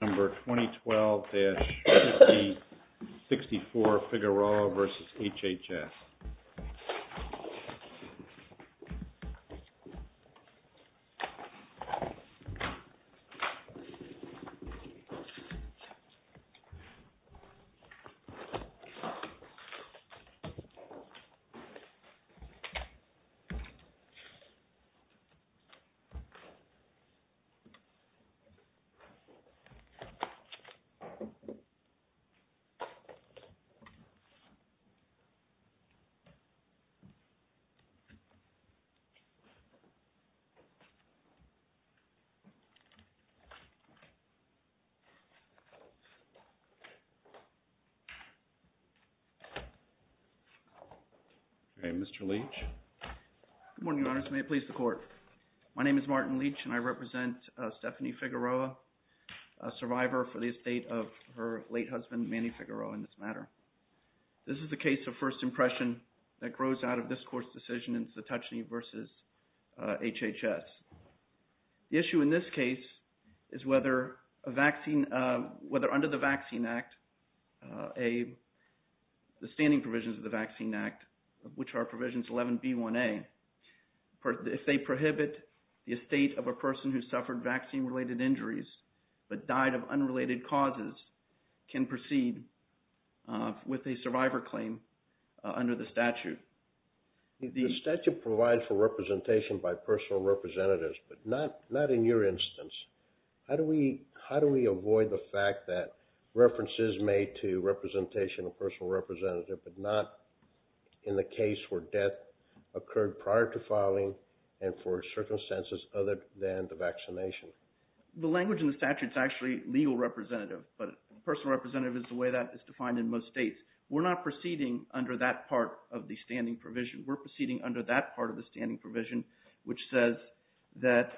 Number 2012-6064, Figueroa versus HHS. All right, Mr. Leach. Good morning, Your Honors, and may it please the Court. My name is Martin Leach, and I represent Stephanie Figueroa, a survivor for the estate of her late husband, Manny Figueroa, in this matter. This is a case of first impression that grows out of this Court's decision in Satochne versus HHS. The issue in this case is whether under the Vaccine Act, the standing provisions of the statute prohibit the estate of a person who suffered vaccine-related injuries but died of unrelated causes can proceed with a survivor claim under the statute. The statute provides for representation by personal representatives, but not in your instance. How do we avoid the fact that reference is made to representation of personal representative but not in the case where death occurred prior to filing and for circumstances other than the vaccination? The language in the statute is actually legal representative, but personal representative is the way that is defined in most states. We're not proceeding under that part of the standing provision. We're proceeding under that part of the standing provision, which says that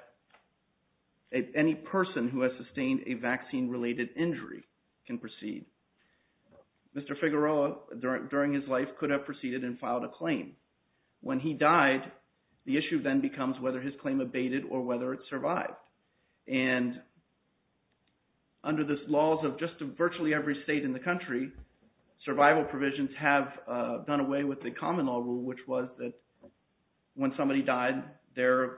any person who has sustained a vaccine-related injury can proceed. Mr. Figueroa, during his life, could have proceeded and filed a claim. When he died, the issue then becomes whether his claim abated or whether it survived. Under the laws of just virtually every state in the country, survival provisions have gone away with the common law rule, which was that when somebody died, their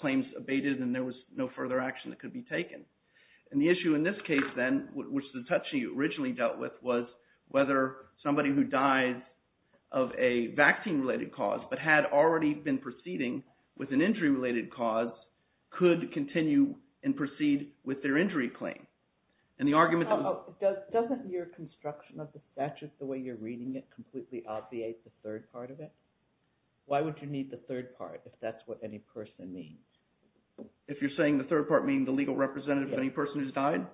claims abated and And the issue in this case then, which the Touchy originally dealt with, was whether somebody who died of a vaccine-related cause but had already been proceeding with an injury-related cause could continue and proceed with their injury claim. And the argument that – Doesn't your construction of the statute, the way you're reading it, completely obviate the third part of it? Why would you need the third part if that's what any person means? If you're saying the third part means the legal representative of any person who's died?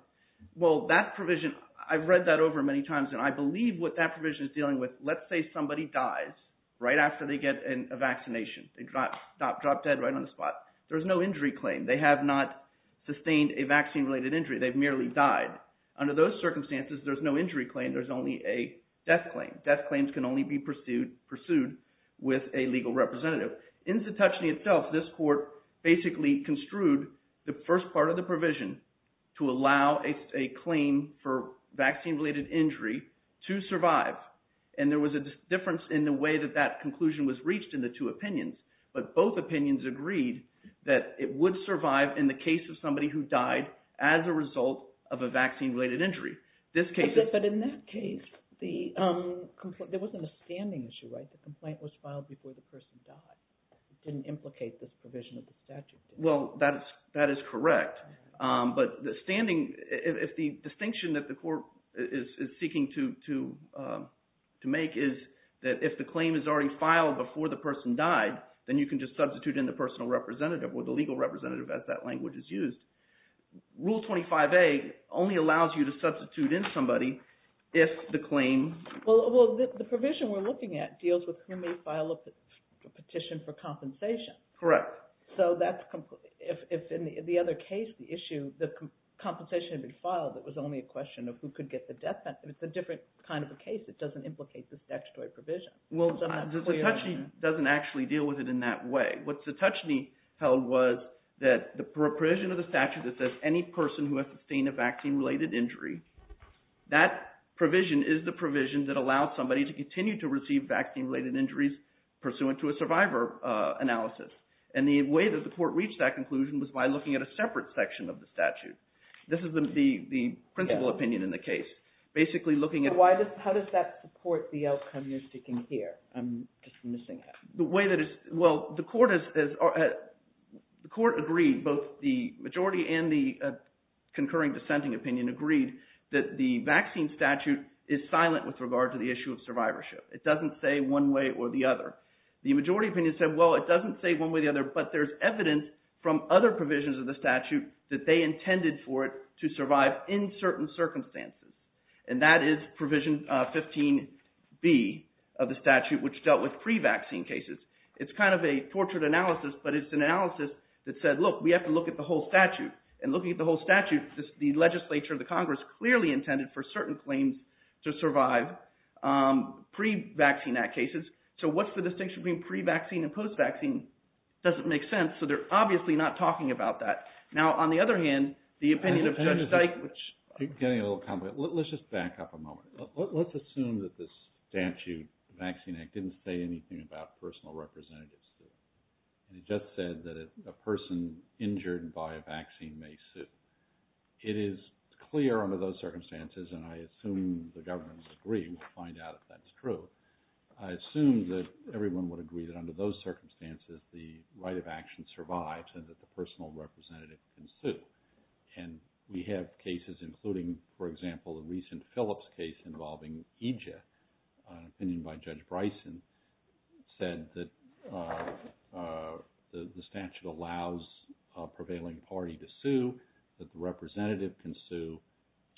Well, that provision – I've read that over many times, and I believe what that provision is dealing with – let's say somebody dies right after they get a vaccination. They drop dead right on the spot. There's no injury claim. They have not sustained a vaccine-related injury. They've merely died. Under those circumstances, there's no injury claim. There's only a death claim. Death claims can only be pursued with a legal representative. In Satoshne itself, this court basically construed the first part of the provision to allow a claim for vaccine-related injury to survive. And there was a difference in the way that that conclusion was reached in the two opinions. But both opinions agreed that it would survive in the case of somebody who died as a result of a vaccine-related injury. This case – But in that case, there wasn't a standing issue, right? The complaint was filed before the person died. It didn't implicate this provision of the statute. Well, that is correct. But the standing – if the distinction that the court is seeking to make is that if the claim is already filed before the person died, then you can just substitute in the personal representative or the legal representative as that language is used. Rule 25A only allows you to substitute in somebody if the claim – Well, the provision we're looking at deals with who may file a petition for compensation. Correct. So that's – if in the other case, the issue – the compensation had been filed, it was only a question of who could get the death penalty. It's a different kind of a case. It doesn't implicate the statutory provision. Well, Satoshne doesn't actually deal with it in that way. What Satoshne held was that the provision of the statute that says any person who has sustained a vaccine-related injury, that provision is the provision that allows somebody to continue to receive vaccine-related injuries pursuant to a survivor analysis. And the way that the court reached that conclusion was by looking at a separate section of the statute. This is the principal opinion in the case, basically looking at – How does that support the outcome you're seeking here? I'm just missing it. Well, the court agreed, both the majority and the concurring dissenting opinion agreed that the vaccine statute is silent with regard to the issue of survivorship. It doesn't say one way or the other. The majority opinion said, well, it doesn't say one way or the other, but there's evidence from other provisions of the statute that they intended for it to survive in certain circumstances. And that is provision 15B of the statute, which dealt with pre-vaccine cases. It's kind of a tortured analysis, but it's an analysis that said, look, we have to look at the whole statute. And looking at the whole statute, the legislature, the Congress clearly intended for certain claims to survive pre-vaccine act cases. So what's the distinction between pre-vaccine and post-vaccine? It doesn't make sense, so they're obviously not talking about that. Now, on the other hand, the opinion of Judge Dyke, which – So let's just back up a moment. Let's assume that the statute, the Vaccine Act, didn't say anything about personal representatives. It just said that a person injured by a vaccine may sue. It is clear under those circumstances, and I assume the governments agree, we'll find out if that's true. I assume that everyone would agree that under those circumstances, the right of action survives and that the personal representative can sue. And we have cases including, for example, a recent Phillips case involving EJIA. An opinion by Judge Bryson said that the statute allows a prevailing party to sue, that the representative can sue,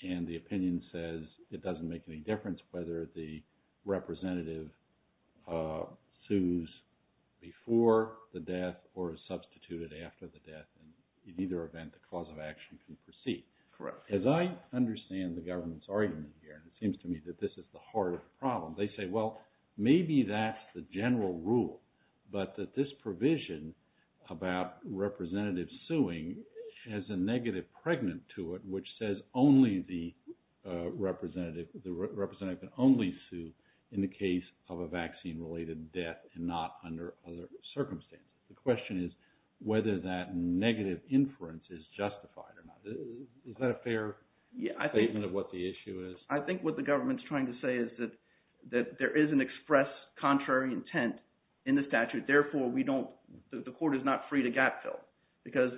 and the opinion says it doesn't make any difference whether the representative sues before the death or is substituted after the death. In either event, the cause of action can proceed. Correct. As I understand the government's argument here, it seems to me that this is the heart of the problem. They say, well, maybe that's the general rule, but that this provision about representative suing has a negative pregnant to it, which says only the representative can only sue in the case of a vaccine-related death and not under other circumstances. The question is whether that negative inference is justified or not. Is that a fair statement of what the issue is? I think what the government's trying to say is that there is an express contrary intent in the statute, therefore the court is not free to gap fill, because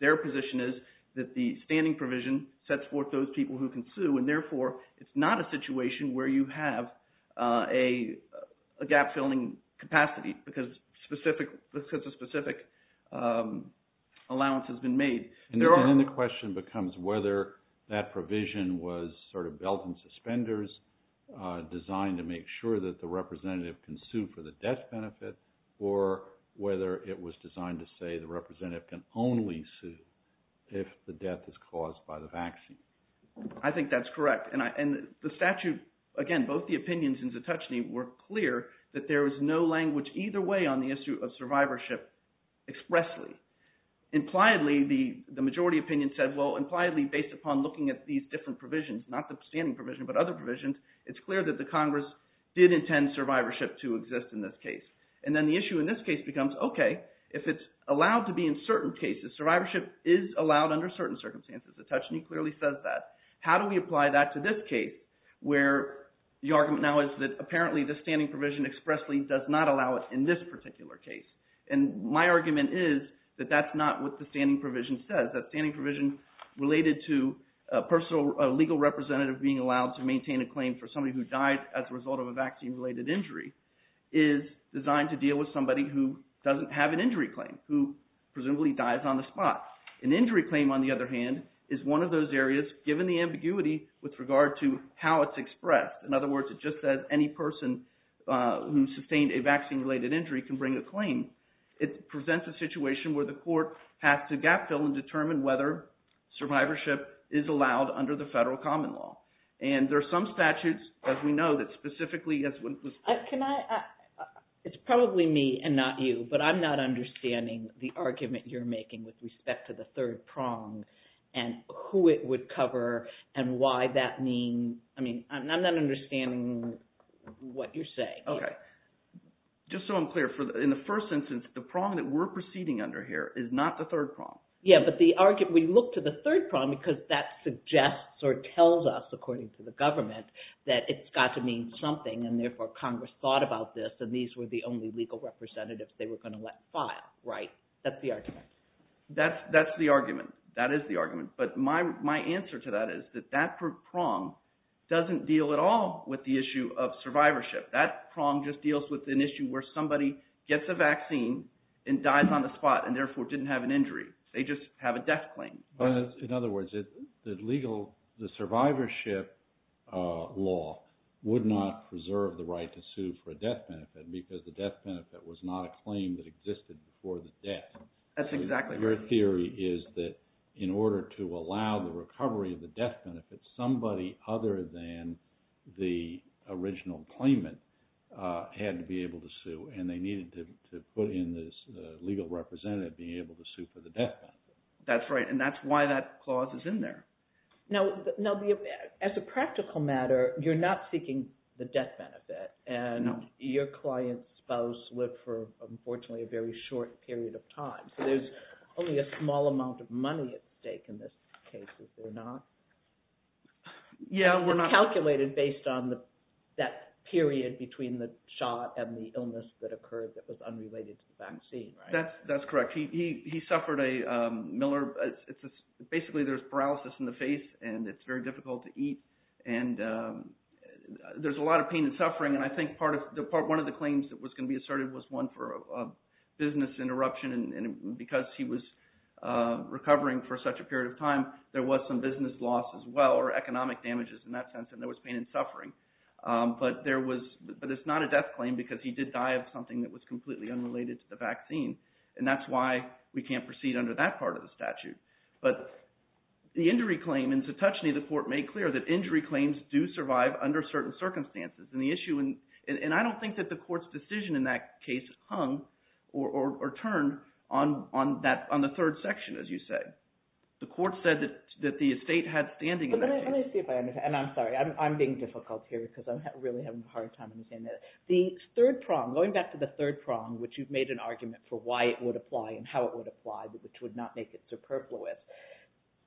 their position is that the standing provision sets forth those people who can sue, and therefore it's not a situation where you have a gap filling capacity because a specific allowance has been made. And then the question becomes whether that provision was sort of belt and suspenders, designed to make sure that the representative can sue for the death benefit, or whether it was designed to say the representative can only sue if the death is caused by the vaccine. I think that's correct. And the statute, again, both the opinions in Zetouchne were clear that there was no language either way on the issue of survivorship expressly. Impliedly, the majority opinion said, well, impliedly, based upon looking at these different provisions, not the standing provision, but other provisions, it's clear that the Congress did intend survivorship to exist in this case. And then the issue in this case becomes, okay, if it's allowed to be in certain cases, survivorship is allowed under certain circumstances. Zetouchne clearly says that. How do we apply that to this case, where the argument now is that apparently the standing provision expressly does not allow it in this particular case? And my argument is that that's not what the standing provision says. That standing provision related to a legal representative being allowed to maintain a claim for somebody who died as a result of a vaccine-related injury is designed to deal with somebody who doesn't have an injury claim, who presumably dies on the spot. An injury claim, on the other hand, is one of those areas, given the ambiguity with regard to how it's expressed. In other words, it just says any person who sustained a vaccine-related injury can bring a claim. It presents a situation where the court has to gap fill and determine whether survivorship is allowed under the federal common law. And there are some statutes, as we know, that specifically – Can I – it's probably me and not you, but I'm not understanding the argument you're making with respect to the third prong and who it would cover and why that means – I mean, I'm not understanding what you're saying. Okay. Just so I'm clear, in the first instance, the prong that we're proceeding under here is not the third prong. Yeah, but the argument – we look to the third prong because that suggests, or tells us, according to the government, that it's got to mean something, and therefore Congress thought about this, and these were the only legal representatives they were going to let file, right? That's the argument. That's the argument. That is the argument. But my answer to that is that that prong doesn't deal at all with the issue of survivorship. That prong just deals with an issue where somebody gets a vaccine and dies on the spot and therefore didn't have an injury. They just have a death claim. In other words, the legal – the survivorship law would not preserve the right to sue for a death benefit because the death benefit was not a claim that existed before the death. That's exactly right. Your theory is that in order to allow the recovery of the death benefit, somebody other than the original claimant had to be able to sue, and they needed to put in this legal representative being able to sue for the death benefit. That's right, and that's why that clause is in there. Now, as a practical matter, you're not seeking the death benefit. No. Your client's spouse lived for, unfortunately, a very short period of time. So there's only a small amount of money at stake in this case, is there not? Yeah, we're not – It's calculated based on that period between the shot and the illness that occurred that was unrelated to the vaccine, right? That's correct. He suffered a – Miller – basically there's paralysis in the face, and it's very difficult to eat. There's a lot of pain and suffering, and I think one of the claims that was going to be asserted was one for a business interruption, and because he was recovering for such a period of time, there was some business loss as well or economic damages in that sense, and there was pain and suffering. But there was – but it's not a death claim because he did die of something that was completely unrelated to the vaccine, and that's why we can't proceed under that part of the statute. But the injury claim – and to touch on it, the court made clear that injury claims do survive under certain circumstances, and the issue – and I don't think that the court's decision in that case hung or turned on the third section, as you said. The court said that the estate had standing in that case. Let me see if I understand – and I'm sorry. I'm being difficult here because I'm really having a hard time understanding that. The third prong – going back to the third prong, which you've made an argument for why it would apply and how it would apply, which would not make it superfluous,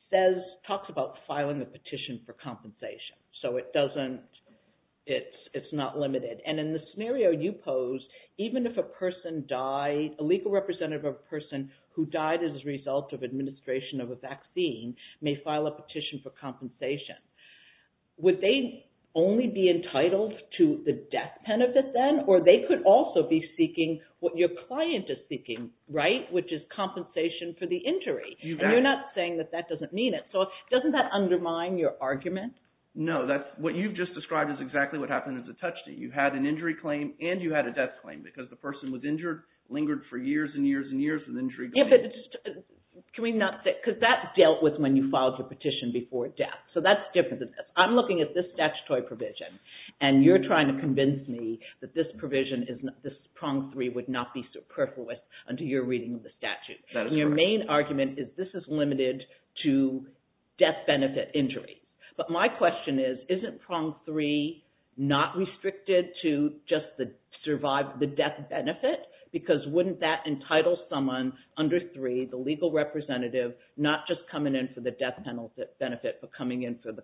says – talks about filing a petition for compensation. So it doesn't – it's not limited. And in the scenario you posed, even if a person died – a legal representative of a person who died as a result of administration of a vaccine may file a petition for compensation, would they only be entitled to the death benefit then, or they could also be seeking what your client is seeking, right, which is compensation for the injury. And you're not saying that that doesn't mean it. So doesn't that undermine your argument? No, that's – what you've just described is exactly what happened as a touch state. You had an injury claim and you had a death claim because the person was injured, lingered for years and years and years with injury claims. Can we not say – because that dealt with when you filed your petition before death. So that's different than this. I'm looking at this statutory provision and you're trying to convince me that this provision is – this prong three would not be superfluous under your reading of the statute. Your main argument is this is limited to death benefit injury. But my question is, isn't prong three not restricted to just the death benefit? Because wouldn't that entitle someone under three, the legal representative, not just coming in for the death benefit but coming in for the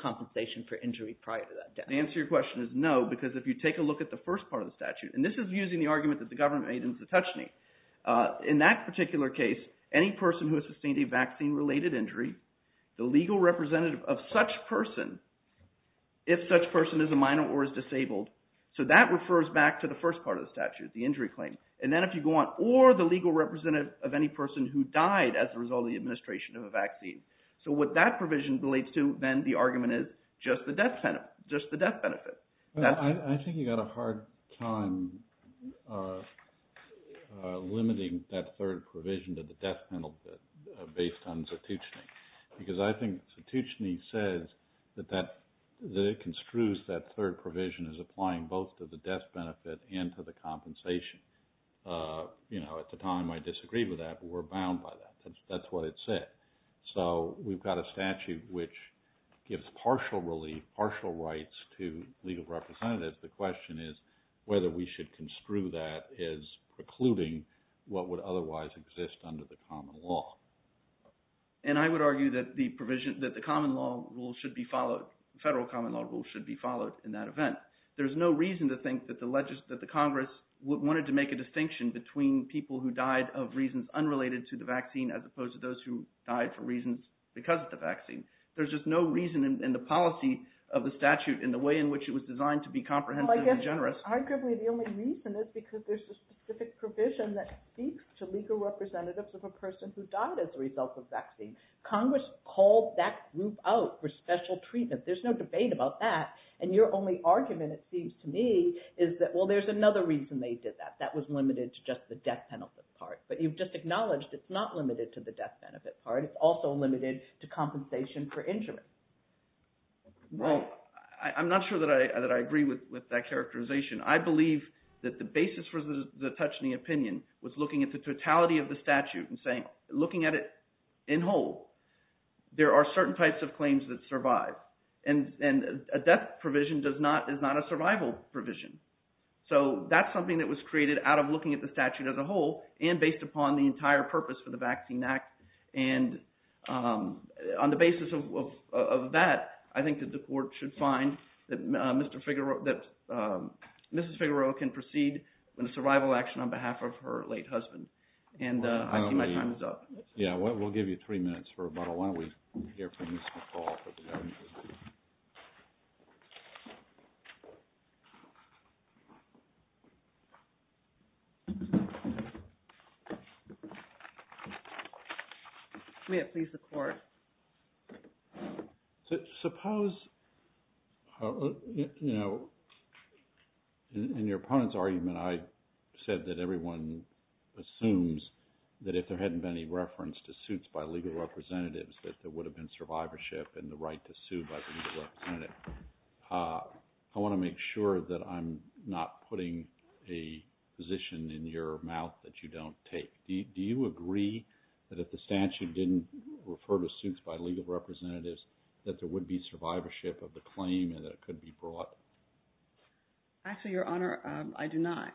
compensation for injury prior to that death? The answer to your question is no, because if you take a look at the first part of the statute, and this is using the argument that the government made in Satoshne. In that particular case, any person who has sustained a vaccine-related injury, the legal representative of such person, if such person is a minor or is disabled, so that refers back to the first part of the statute, the injury claim. And then if you go on, or the legal representative of any person who died as a result of the administration of a vaccine. So what that provision relates to, then the argument is just the death benefit. I think you've got a hard time limiting that third provision to the death benefit based on Satoshne. Because I think Satoshne says that it construes that third provision as applying both to the death benefit and to the compensation. At the time, I disagreed with that, but we're bound by that. That's what it said. So we've got a statute which gives partial relief, partial rights to legal representatives. The question is whether we should construe that as precluding what would otherwise exist under the common law. And I would argue that the provision, that the common law rule should be followed, federal common law rule should be followed in that event. There's no reason to think that the Congress wanted to make a distinction between people who died of reasons unrelated to the vaccine as opposed to those who died for reasons because of the vaccine. There's just no reason in the policy of the statute in the way in which it was designed to be comprehensive and generous. But arguably the only reason is because there's a specific provision that speaks to legal representatives of a person who died as a result of vaccine. Congress called that group out for special treatment. There's no debate about that. And your only argument, it seems to me, is that, well, there's another reason they did that. That was limited to just the death benefit part. But you've just acknowledged it's not limited to the death benefit part. It's also limited to compensation for injuries. Well, I'm not sure that I agree with that characterization. I believe that the basis for the Tuchne opinion was looking at the totality of the statute and looking at it in whole. There are certain types of claims that survive, and a death provision is not a survival provision. So that's something that was created out of looking at the statute as a whole and based upon the entire purpose for the Vaccine Act. And on the basis of that, I think that the court should find that Mrs. Figueroa can proceed with a survival action on behalf of her late husband. And I think my time is up. Yeah, we'll give you three minutes for rebuttal. Why don't we hear from Ms. McCall for the government? May it please the Court. Suppose, you know, in your opponent's argument, I said that everyone assumes that if there hadn't been any reference to suits by legal representatives, that there would have been survivorship and the right to sue by the legal representative. I want to make sure that I'm not putting a position in your mouth that you don't take. Do you agree that if the statute didn't refer to suits by legal representatives, that there would be survivorship of the claim and that it could be brought? Actually, Your Honor, I do not.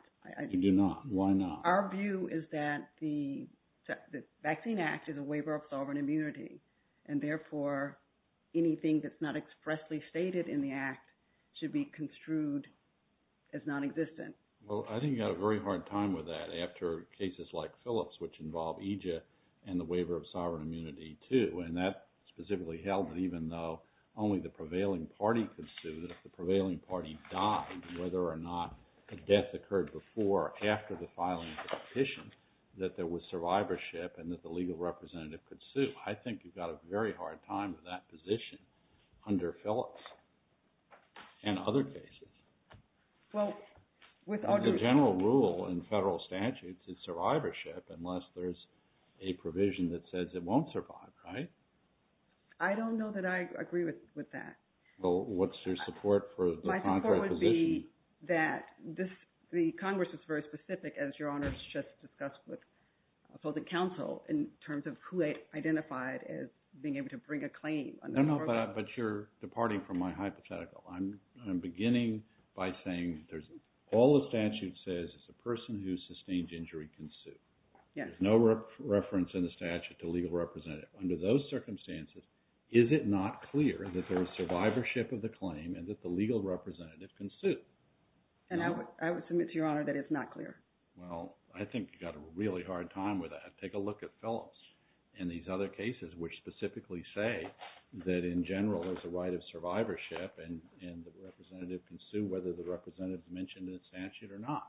You do not. Why not? Our view is that the Vaccine Act is a waiver of sovereign immunity. And therefore, anything that's not expressly stated in the Act should be construed as nonexistent. Well, I think you've got a very hard time with that after cases like Phillips, which involve EJIA and the waiver of sovereign immunity, too. And that specifically held that even though only the prevailing party could sue, that if the prevailing party died, whether or not a death occurred before or after the filing of the petition, that there was survivorship and that the legal representative could sue. I think you've got a very hard time with that position under Phillips and other cases. The general rule in federal statutes is survivorship unless there's a provision that says it won't survive, right? I don't know that I agree with that. Well, what's your support for the contract position? My support would be that the Congress is very specific, as Your Honor has just discussed with the council, in terms of who they identified as being able to bring a claim. But you're departing from my hypothetical. I'm beginning by saying all the statute says is a person who sustained injury can sue. There's no reference in the statute to legal representative. Under those circumstances, is it not clear that there is survivorship of the claim and that the legal representative can sue? And I would submit to Your Honor that it's not clear. Well, I think you've got a really hard time with that. Take a look at Phillips and these other cases, which specifically say that, in general, there's a right of survivorship, and the representative can sue whether the representative mentioned in the statute or not.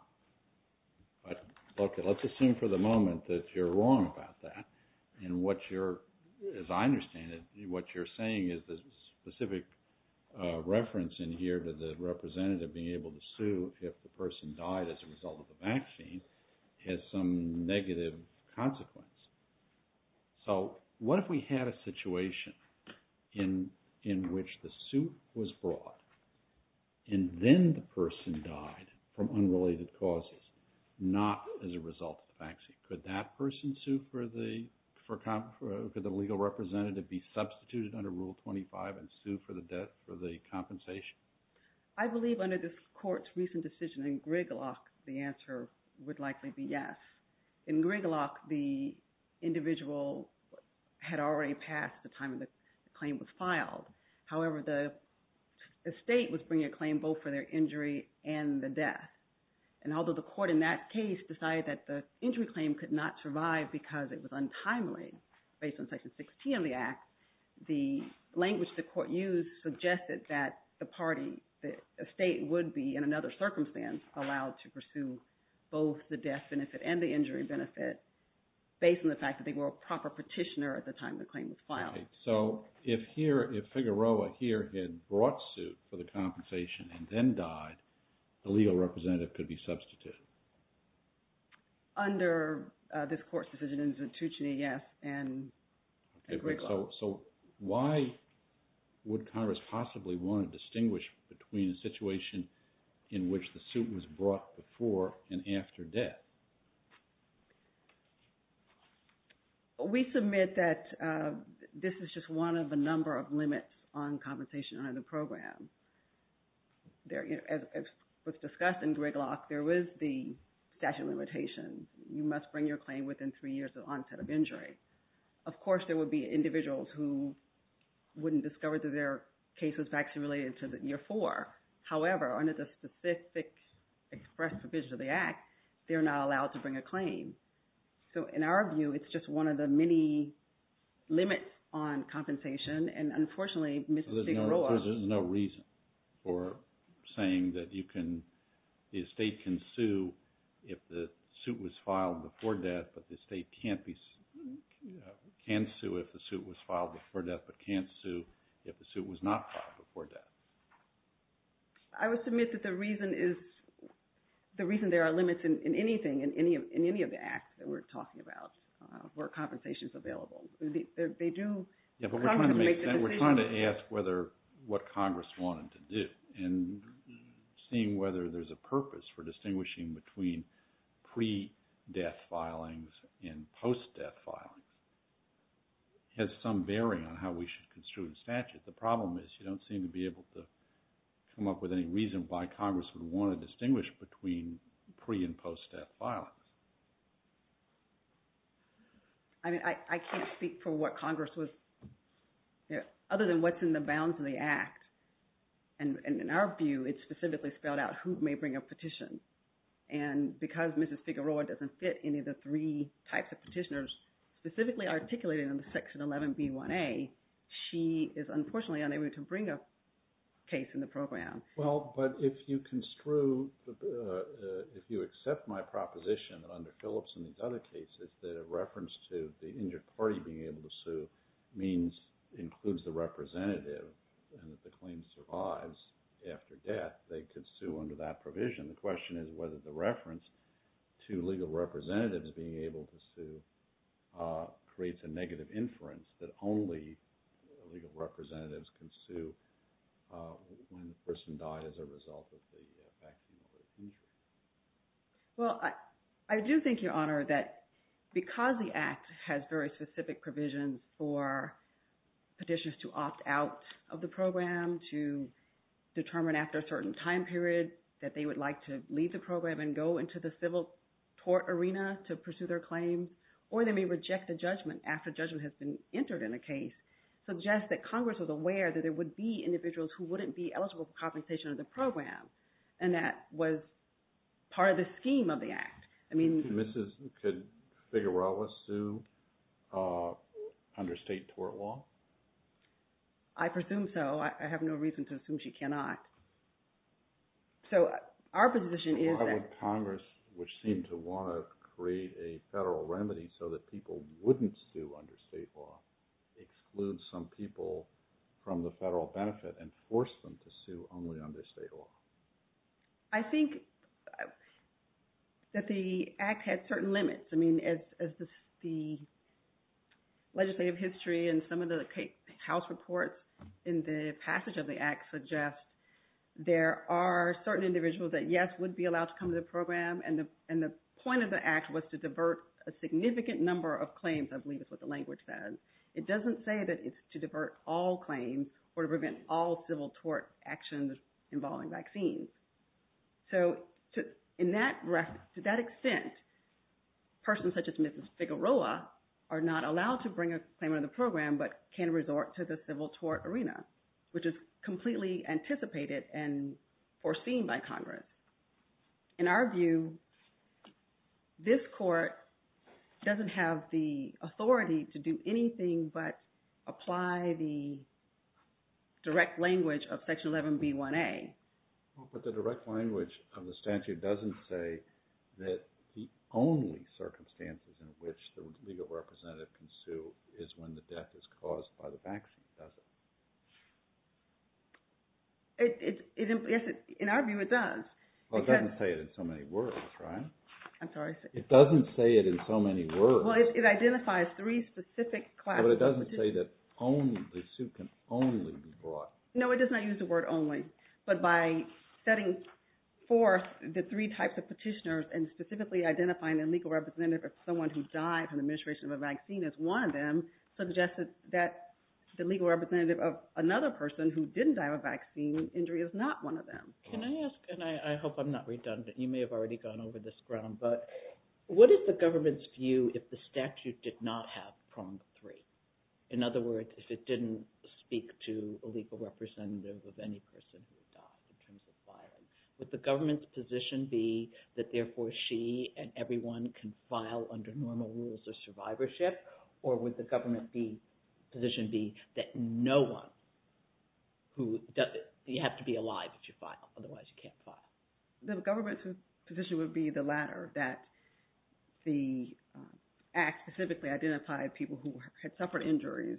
But look, let's assume for the moment that you're wrong about that. As I understand it, what you're saying is the specific reference in here to the representative being able to sue if the person died as a result of the vaccine has some negative consequence. So what if we had a situation in which the suit was brought and then the person died from unrelated causes, not as a result of the vaccine? Could that person sue for the – could the legal representative be substituted under Rule 25 and sue for the compensation? I believe under this Court's recent decision in Grigalock, the answer would likely be yes. In Grigalock, the individual had already passed the time the claim was filed. However, the state was bringing a claim both for their injury and the death. And although the Court in that case decided that the injury claim could not survive because it was untimely, based on Section 16 of the Act, the language the Court used suggested that the party – the state would be, in another circumstance, allowed to pursue both the death benefit and the injury benefit based on the fact that they were a proper petitioner at the time the claim was filed. All right. So if here – if Figueroa here had brought suit for the compensation and then died, the legal representative could be substituted? Under this Court's decision in Zantucci, yes, and Grigalock. So why would Congress possibly want to distinguish between a situation in which the suit was brought before and after death? We submit that this is just one of a number of limits on compensation under the program. As was discussed in Grigalock, there was the statute of limitations. You must bring your claim within three years of onset of injury. Of course, there would be individuals who wouldn't discover that their case was actually related to the year four. However, under the specific express provisions of the Act, they're not allowed to bring a claim. So in our view, it's just one of the many limits on compensation, and unfortunately, Mr. Figueroa – There's no reason for saying that you can – the state can sue if the suit was filed before death, but can't sue if the suit was not filed before death. I would submit that the reason is – the reason there are limits in anything, in any of the Acts that we're talking about, where compensation is available. Yeah, but we're trying to ask whether – what Congress wanted to do, and seeing whether there's a purpose for distinguishing between pre-death filings and post-death filings has some bearing on how we should construe the statute. The problem is you don't seem to be able to come up with any reason why Congress would want to distinguish between pre- and post-death filings. I mean, I can't speak for what Congress was – other than what's in the bounds of the Act, and in our view, it's specifically spelled out who may bring a petition, and because Mrs. Figueroa doesn't fit any of the three types of petitioners specifically articulated in Section 11B1A, she is unfortunately unable to bring a case in the program. Well, but if you construe – if you accept my proposition that under Phillips and these other cases, that a reference to the injured party being able to sue means – includes the representative, and that the claim survives after death, they could sue under that provision. The question is whether the reference to legal representatives being able to sue creates a negative inference that only legal representatives can sue when the person died as a result of the fact that they were injured. Well, I do think, Your Honor, that because the Act has very specific provisions for petitioners to opt out of the program, to determine after a certain time period that they would like to leave the program and go into the civil court arena to pursue their claims, or they may reject the judgment after judgment has been entered in a case, suggests that Congress was aware that there would be individuals who wouldn't be eligible for compensation under the program, and that was part of the scheme of the Act. I mean – Could Mrs. Figueroa sue under state tort law? I presume so. I have no reason to assume she cannot. So our position is that – Congress, which seemed to want to create a federal remedy so that people wouldn't sue under state law, excludes some people from the federal benefit and forced them to sue only under state law. I think that the Act had certain limits. I mean, as the legislative history and some of the House reports in the passage of the Act suggest, there are certain individuals that, yes, would be allowed to come to the program, and the point of the Act was to divert a significant number of claims, I believe is what the language says. It doesn't say that it's to divert all claims or to prevent all civil tort actions involving vaccines. So to that extent, persons such as Mrs. Figueroa are not allowed to bring a claim under the program but can resort to the civil tort arena, which is completely anticipated and foreseen by Congress. In our view, this Court doesn't have the authority to do anything but apply the direct language of Section 11B1A. But the direct language of the statute doesn't say that the only circumstances in which the legal representative can sue is when the death is caused by the vaccine, does it? Yes, in our view, it does. Well, it doesn't say it in so many words, right? I'm sorry? It doesn't say it in so many words. Well, it identifies three specific classes. But it doesn't say that the sue can only be brought. No, it does not use the word only. But by setting forth the three types of petitioners and specifically identifying the legal representative of someone who died from the administration of a vaccine as one of them, suggests that the legal representative of another person who didn't die of a vaccine injury is not one of them. Can I ask, and I hope I'm not redundant, you may have already gone over this ground, but what is the government's view if the statute did not have prong three? In other words, if it didn't speak to a legal representative of any person who died in terms of violence, would the government's position be that therefore she and everyone can file under normal rules of survivorship? Or would the government's position be that you have to be alive if you file, otherwise you can't file? The government's position would be the latter, that the act specifically identified people who had suffered injuries,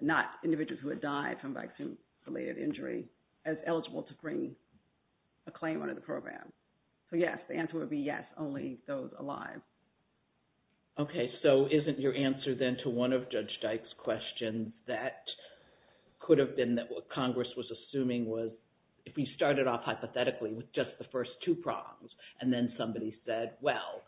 not individuals who had died from vaccine-related injury, as eligible to bring a claim under the program. So yes, the answer would be yes, only those alive. Okay, so isn't your answer then to one of Judge Dyke's questions that could have been that what Congress was assuming was if we started off hypothetically with just the first two prongs and then somebody said, well,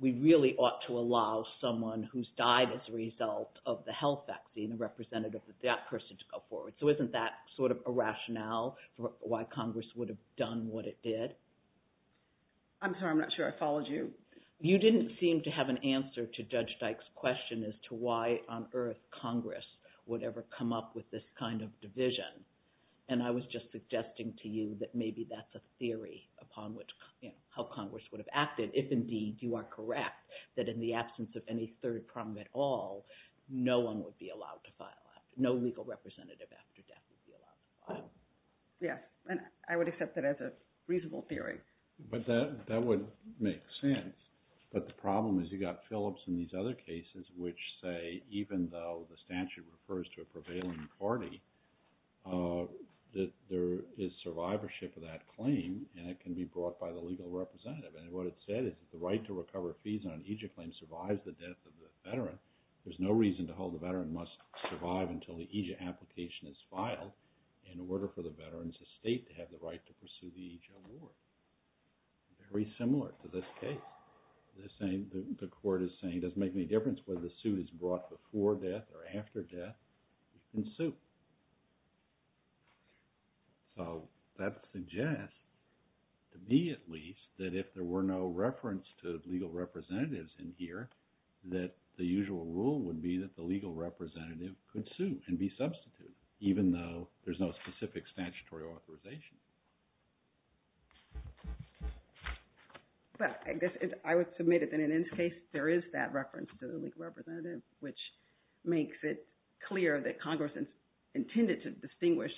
we really ought to allow someone who's died as a result of the health vaccine representative of that person to go forward. So isn't that sort of a rationale for why Congress would have done what it did? I'm sorry, I'm not sure I followed you. You didn't seem to have an answer to Judge Dyke's question as to why on earth Congress would ever come up with this kind of division. And I was just suggesting to you that maybe that's a theory upon how Congress would have acted, if indeed you are correct that in the absence of any third prong at all, no one would be allowed to file. No legal representative after death would be allowed to file. Yes, and I would accept that as a reasonable theory. But that would make sense. But the problem is you've got Phillips and these other cases which say even though the statute refers to a prevailing party, that there is survivorship of that claim and it can be brought by the legal representative. And what it said is the right to recover fees on an EJIA claim survives the death of the veteran. There's no reason to hold the veteran must survive until the EJIA application is filed in order for the veteran's estate to have the right to pursue the EJIA award. Very similar to this case. The court is saying it doesn't make any difference whether the suit is brought before death or after death. You can sue. So that suggests to me at least that if there were no reference to legal representatives in here, that the usual rule would be that the legal representative could sue and be substituted, even though there's no specific statutory authorization. But I guess I would submit that in this case there is that reference to the legal representative, which makes it clear that Congress intended to distinguish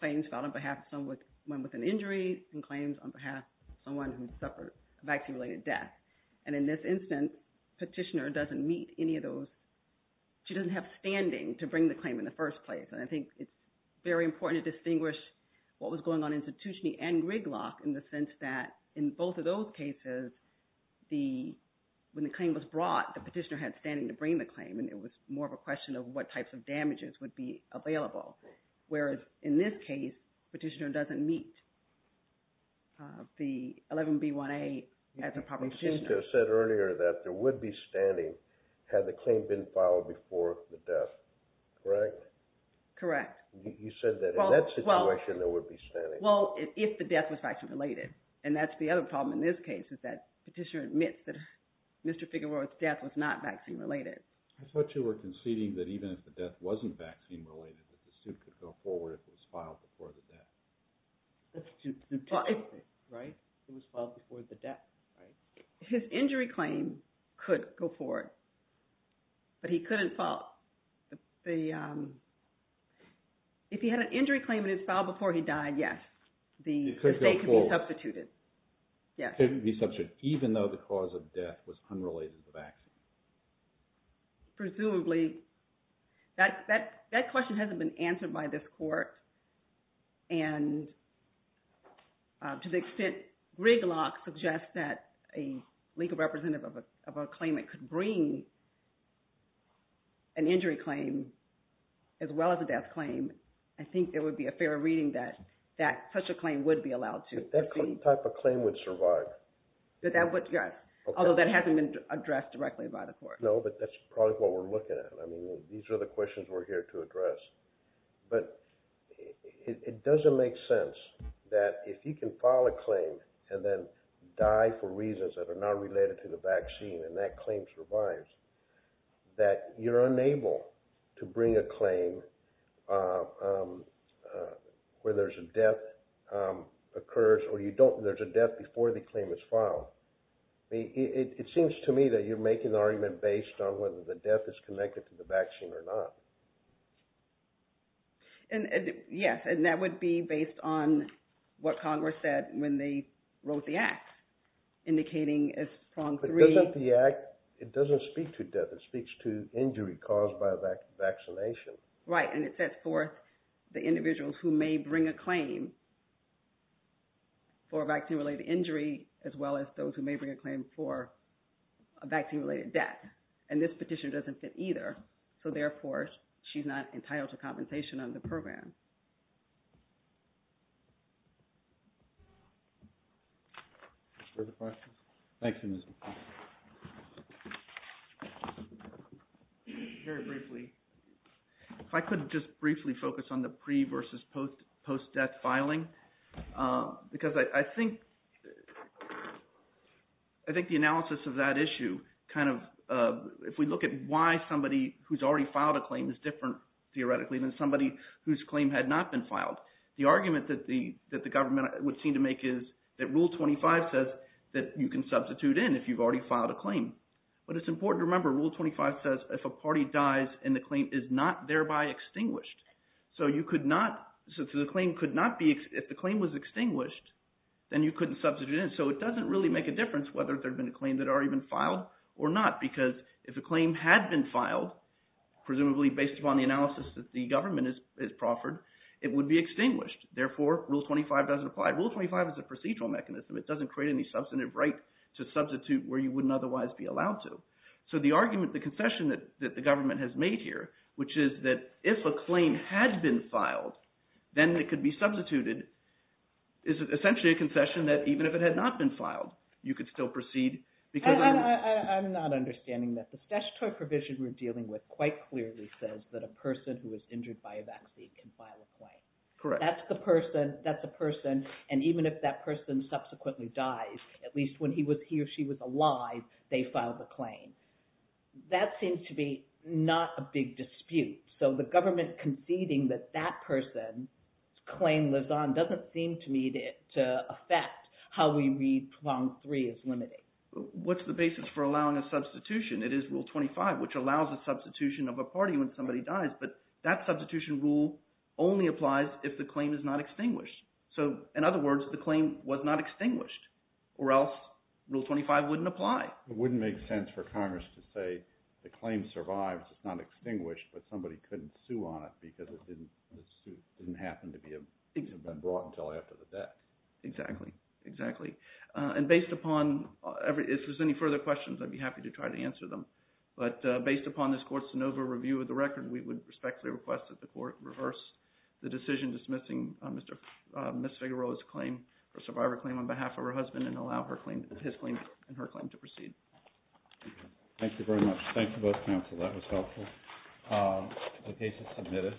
claims filed on behalf of someone with an injury and claims on behalf of someone who suffered a vaccine-related death. And in this instance, petitioner doesn't meet any of those. She doesn't have standing to bring the claim in the first place. And I think it's very important to distinguish what was going on institutionally and Rigglock in the sense that in both of those cases, when the claim was brought, the petitioner had standing to bring the claim, and it was more of a question of what types of damages would be available. Whereas in this case, petitioner doesn't meet the 11B1A as a proper petitioner. Petitioner said earlier that there would be standing had the claim been filed before the death, correct? Correct. You said that in that situation there would be standing. Well, if the death was vaccine-related. And that's the other problem in this case is that petitioner admits that Mr. Figueroa's death was not vaccine-related. I thought you were conceding that even if the death wasn't vaccine-related, that the suit could go forward if it was filed before the death. It was filed before the death, right? His injury claim could go forward, but he couldn't file the – if he had an injury claim and it was filed before he died, yes. The state could be substituted. It could go forward. Yes. It could be substituted even though the cause of death was unrelated to the vaccine. Presumably, that question hasn't been answered by this court. And to the extent Griglock suggests that a legal representative of a claimant could bring an injury claim as well as a death claim, I think there would be a fair reading that such a claim would be allowed to. That type of claim would survive. Although that hasn't been addressed directly by the court. No, but that's probably what we're looking at. These are the questions we're here to address. But it doesn't make sense that if you can file a claim and then die for reasons that are not related to the vaccine and that claim survives, that you're unable to bring a claim where there's a death occurs or you don't – there's a death before the claim is filed. It seems to me that you're making the argument based on whether the death is connected to the vaccine or not. Yes, and that would be based on what Congress said when they wrote the act, indicating as prong three – It doesn't speak to death. It speaks to injury caused by vaccination. Right, and it sets forth the individuals who may bring a claim for a vaccine-related injury as well as those who may bring a claim for a vaccine-related death. And this petition doesn't fit either. So therefore, she's not entitled to compensation under the program. Further questions? Thank you. Very briefly, if I could just briefly focus on the pre- versus post-death filing, because I think the analysis of that issue kind of – if we look at why somebody who's already filed a claim is different theoretically than somebody whose claim had not been filed, the argument that the government would seem to make is that Rule 25 says that you can substitute in if you've already filed a claim. But it's important to remember Rule 25 says if a party dies and the claim is not thereby extinguished. So you could not – so the claim could not be – if the claim was extinguished, then you couldn't substitute in. So it doesn't really make a difference whether there had been a claim that had already been filed or not because if a claim had been filed, presumably based upon the analysis that the government has proffered, it would be extinguished. Therefore, Rule 25 doesn't apply. Rule 25 is a procedural mechanism. It doesn't create any substantive right to substitute where you wouldn't otherwise be allowed to. So the argument, the concession that the government has made here, which is that if a claim had been filed, then it could be substituted, is essentially a concession that even if it had not been filed, you could still proceed because – I'm not understanding this. The statutory provision we're dealing with quite clearly says that a person who is injured by a vaccine can file a claim. Correct. That's the person. That's the person. And even if that person subsequently dies, at least when he or she was alive, they filed the claim. That seems to be not a big dispute. So the government conceding that that person's claim lives on doesn't seem to me to affect how we read prong three as limiting. What's the basis for allowing a substitution? It is Rule 25, which allows a substitution of a party when somebody dies. But that substitution rule only applies if the claim is not extinguished. So in other words, the claim was not extinguished, or else Rule 25 wouldn't apply. It wouldn't make sense for Congress to say the claim survives. It's not extinguished, but somebody couldn't sue on it because it didn't happen to have been brought until after the death. Exactly, exactly. And based upon – if there's any further questions, I'd be happy to try to answer them. But based upon this court's de novo review of the record, we would respectfully request that the court reverse the decision dismissing Ms. Figueroa's claim, her survivor claim, on behalf of her husband and allow his claim and her claim to proceed. Thank you very much. Thank you, both counsel. That was helpful. The case is submitted.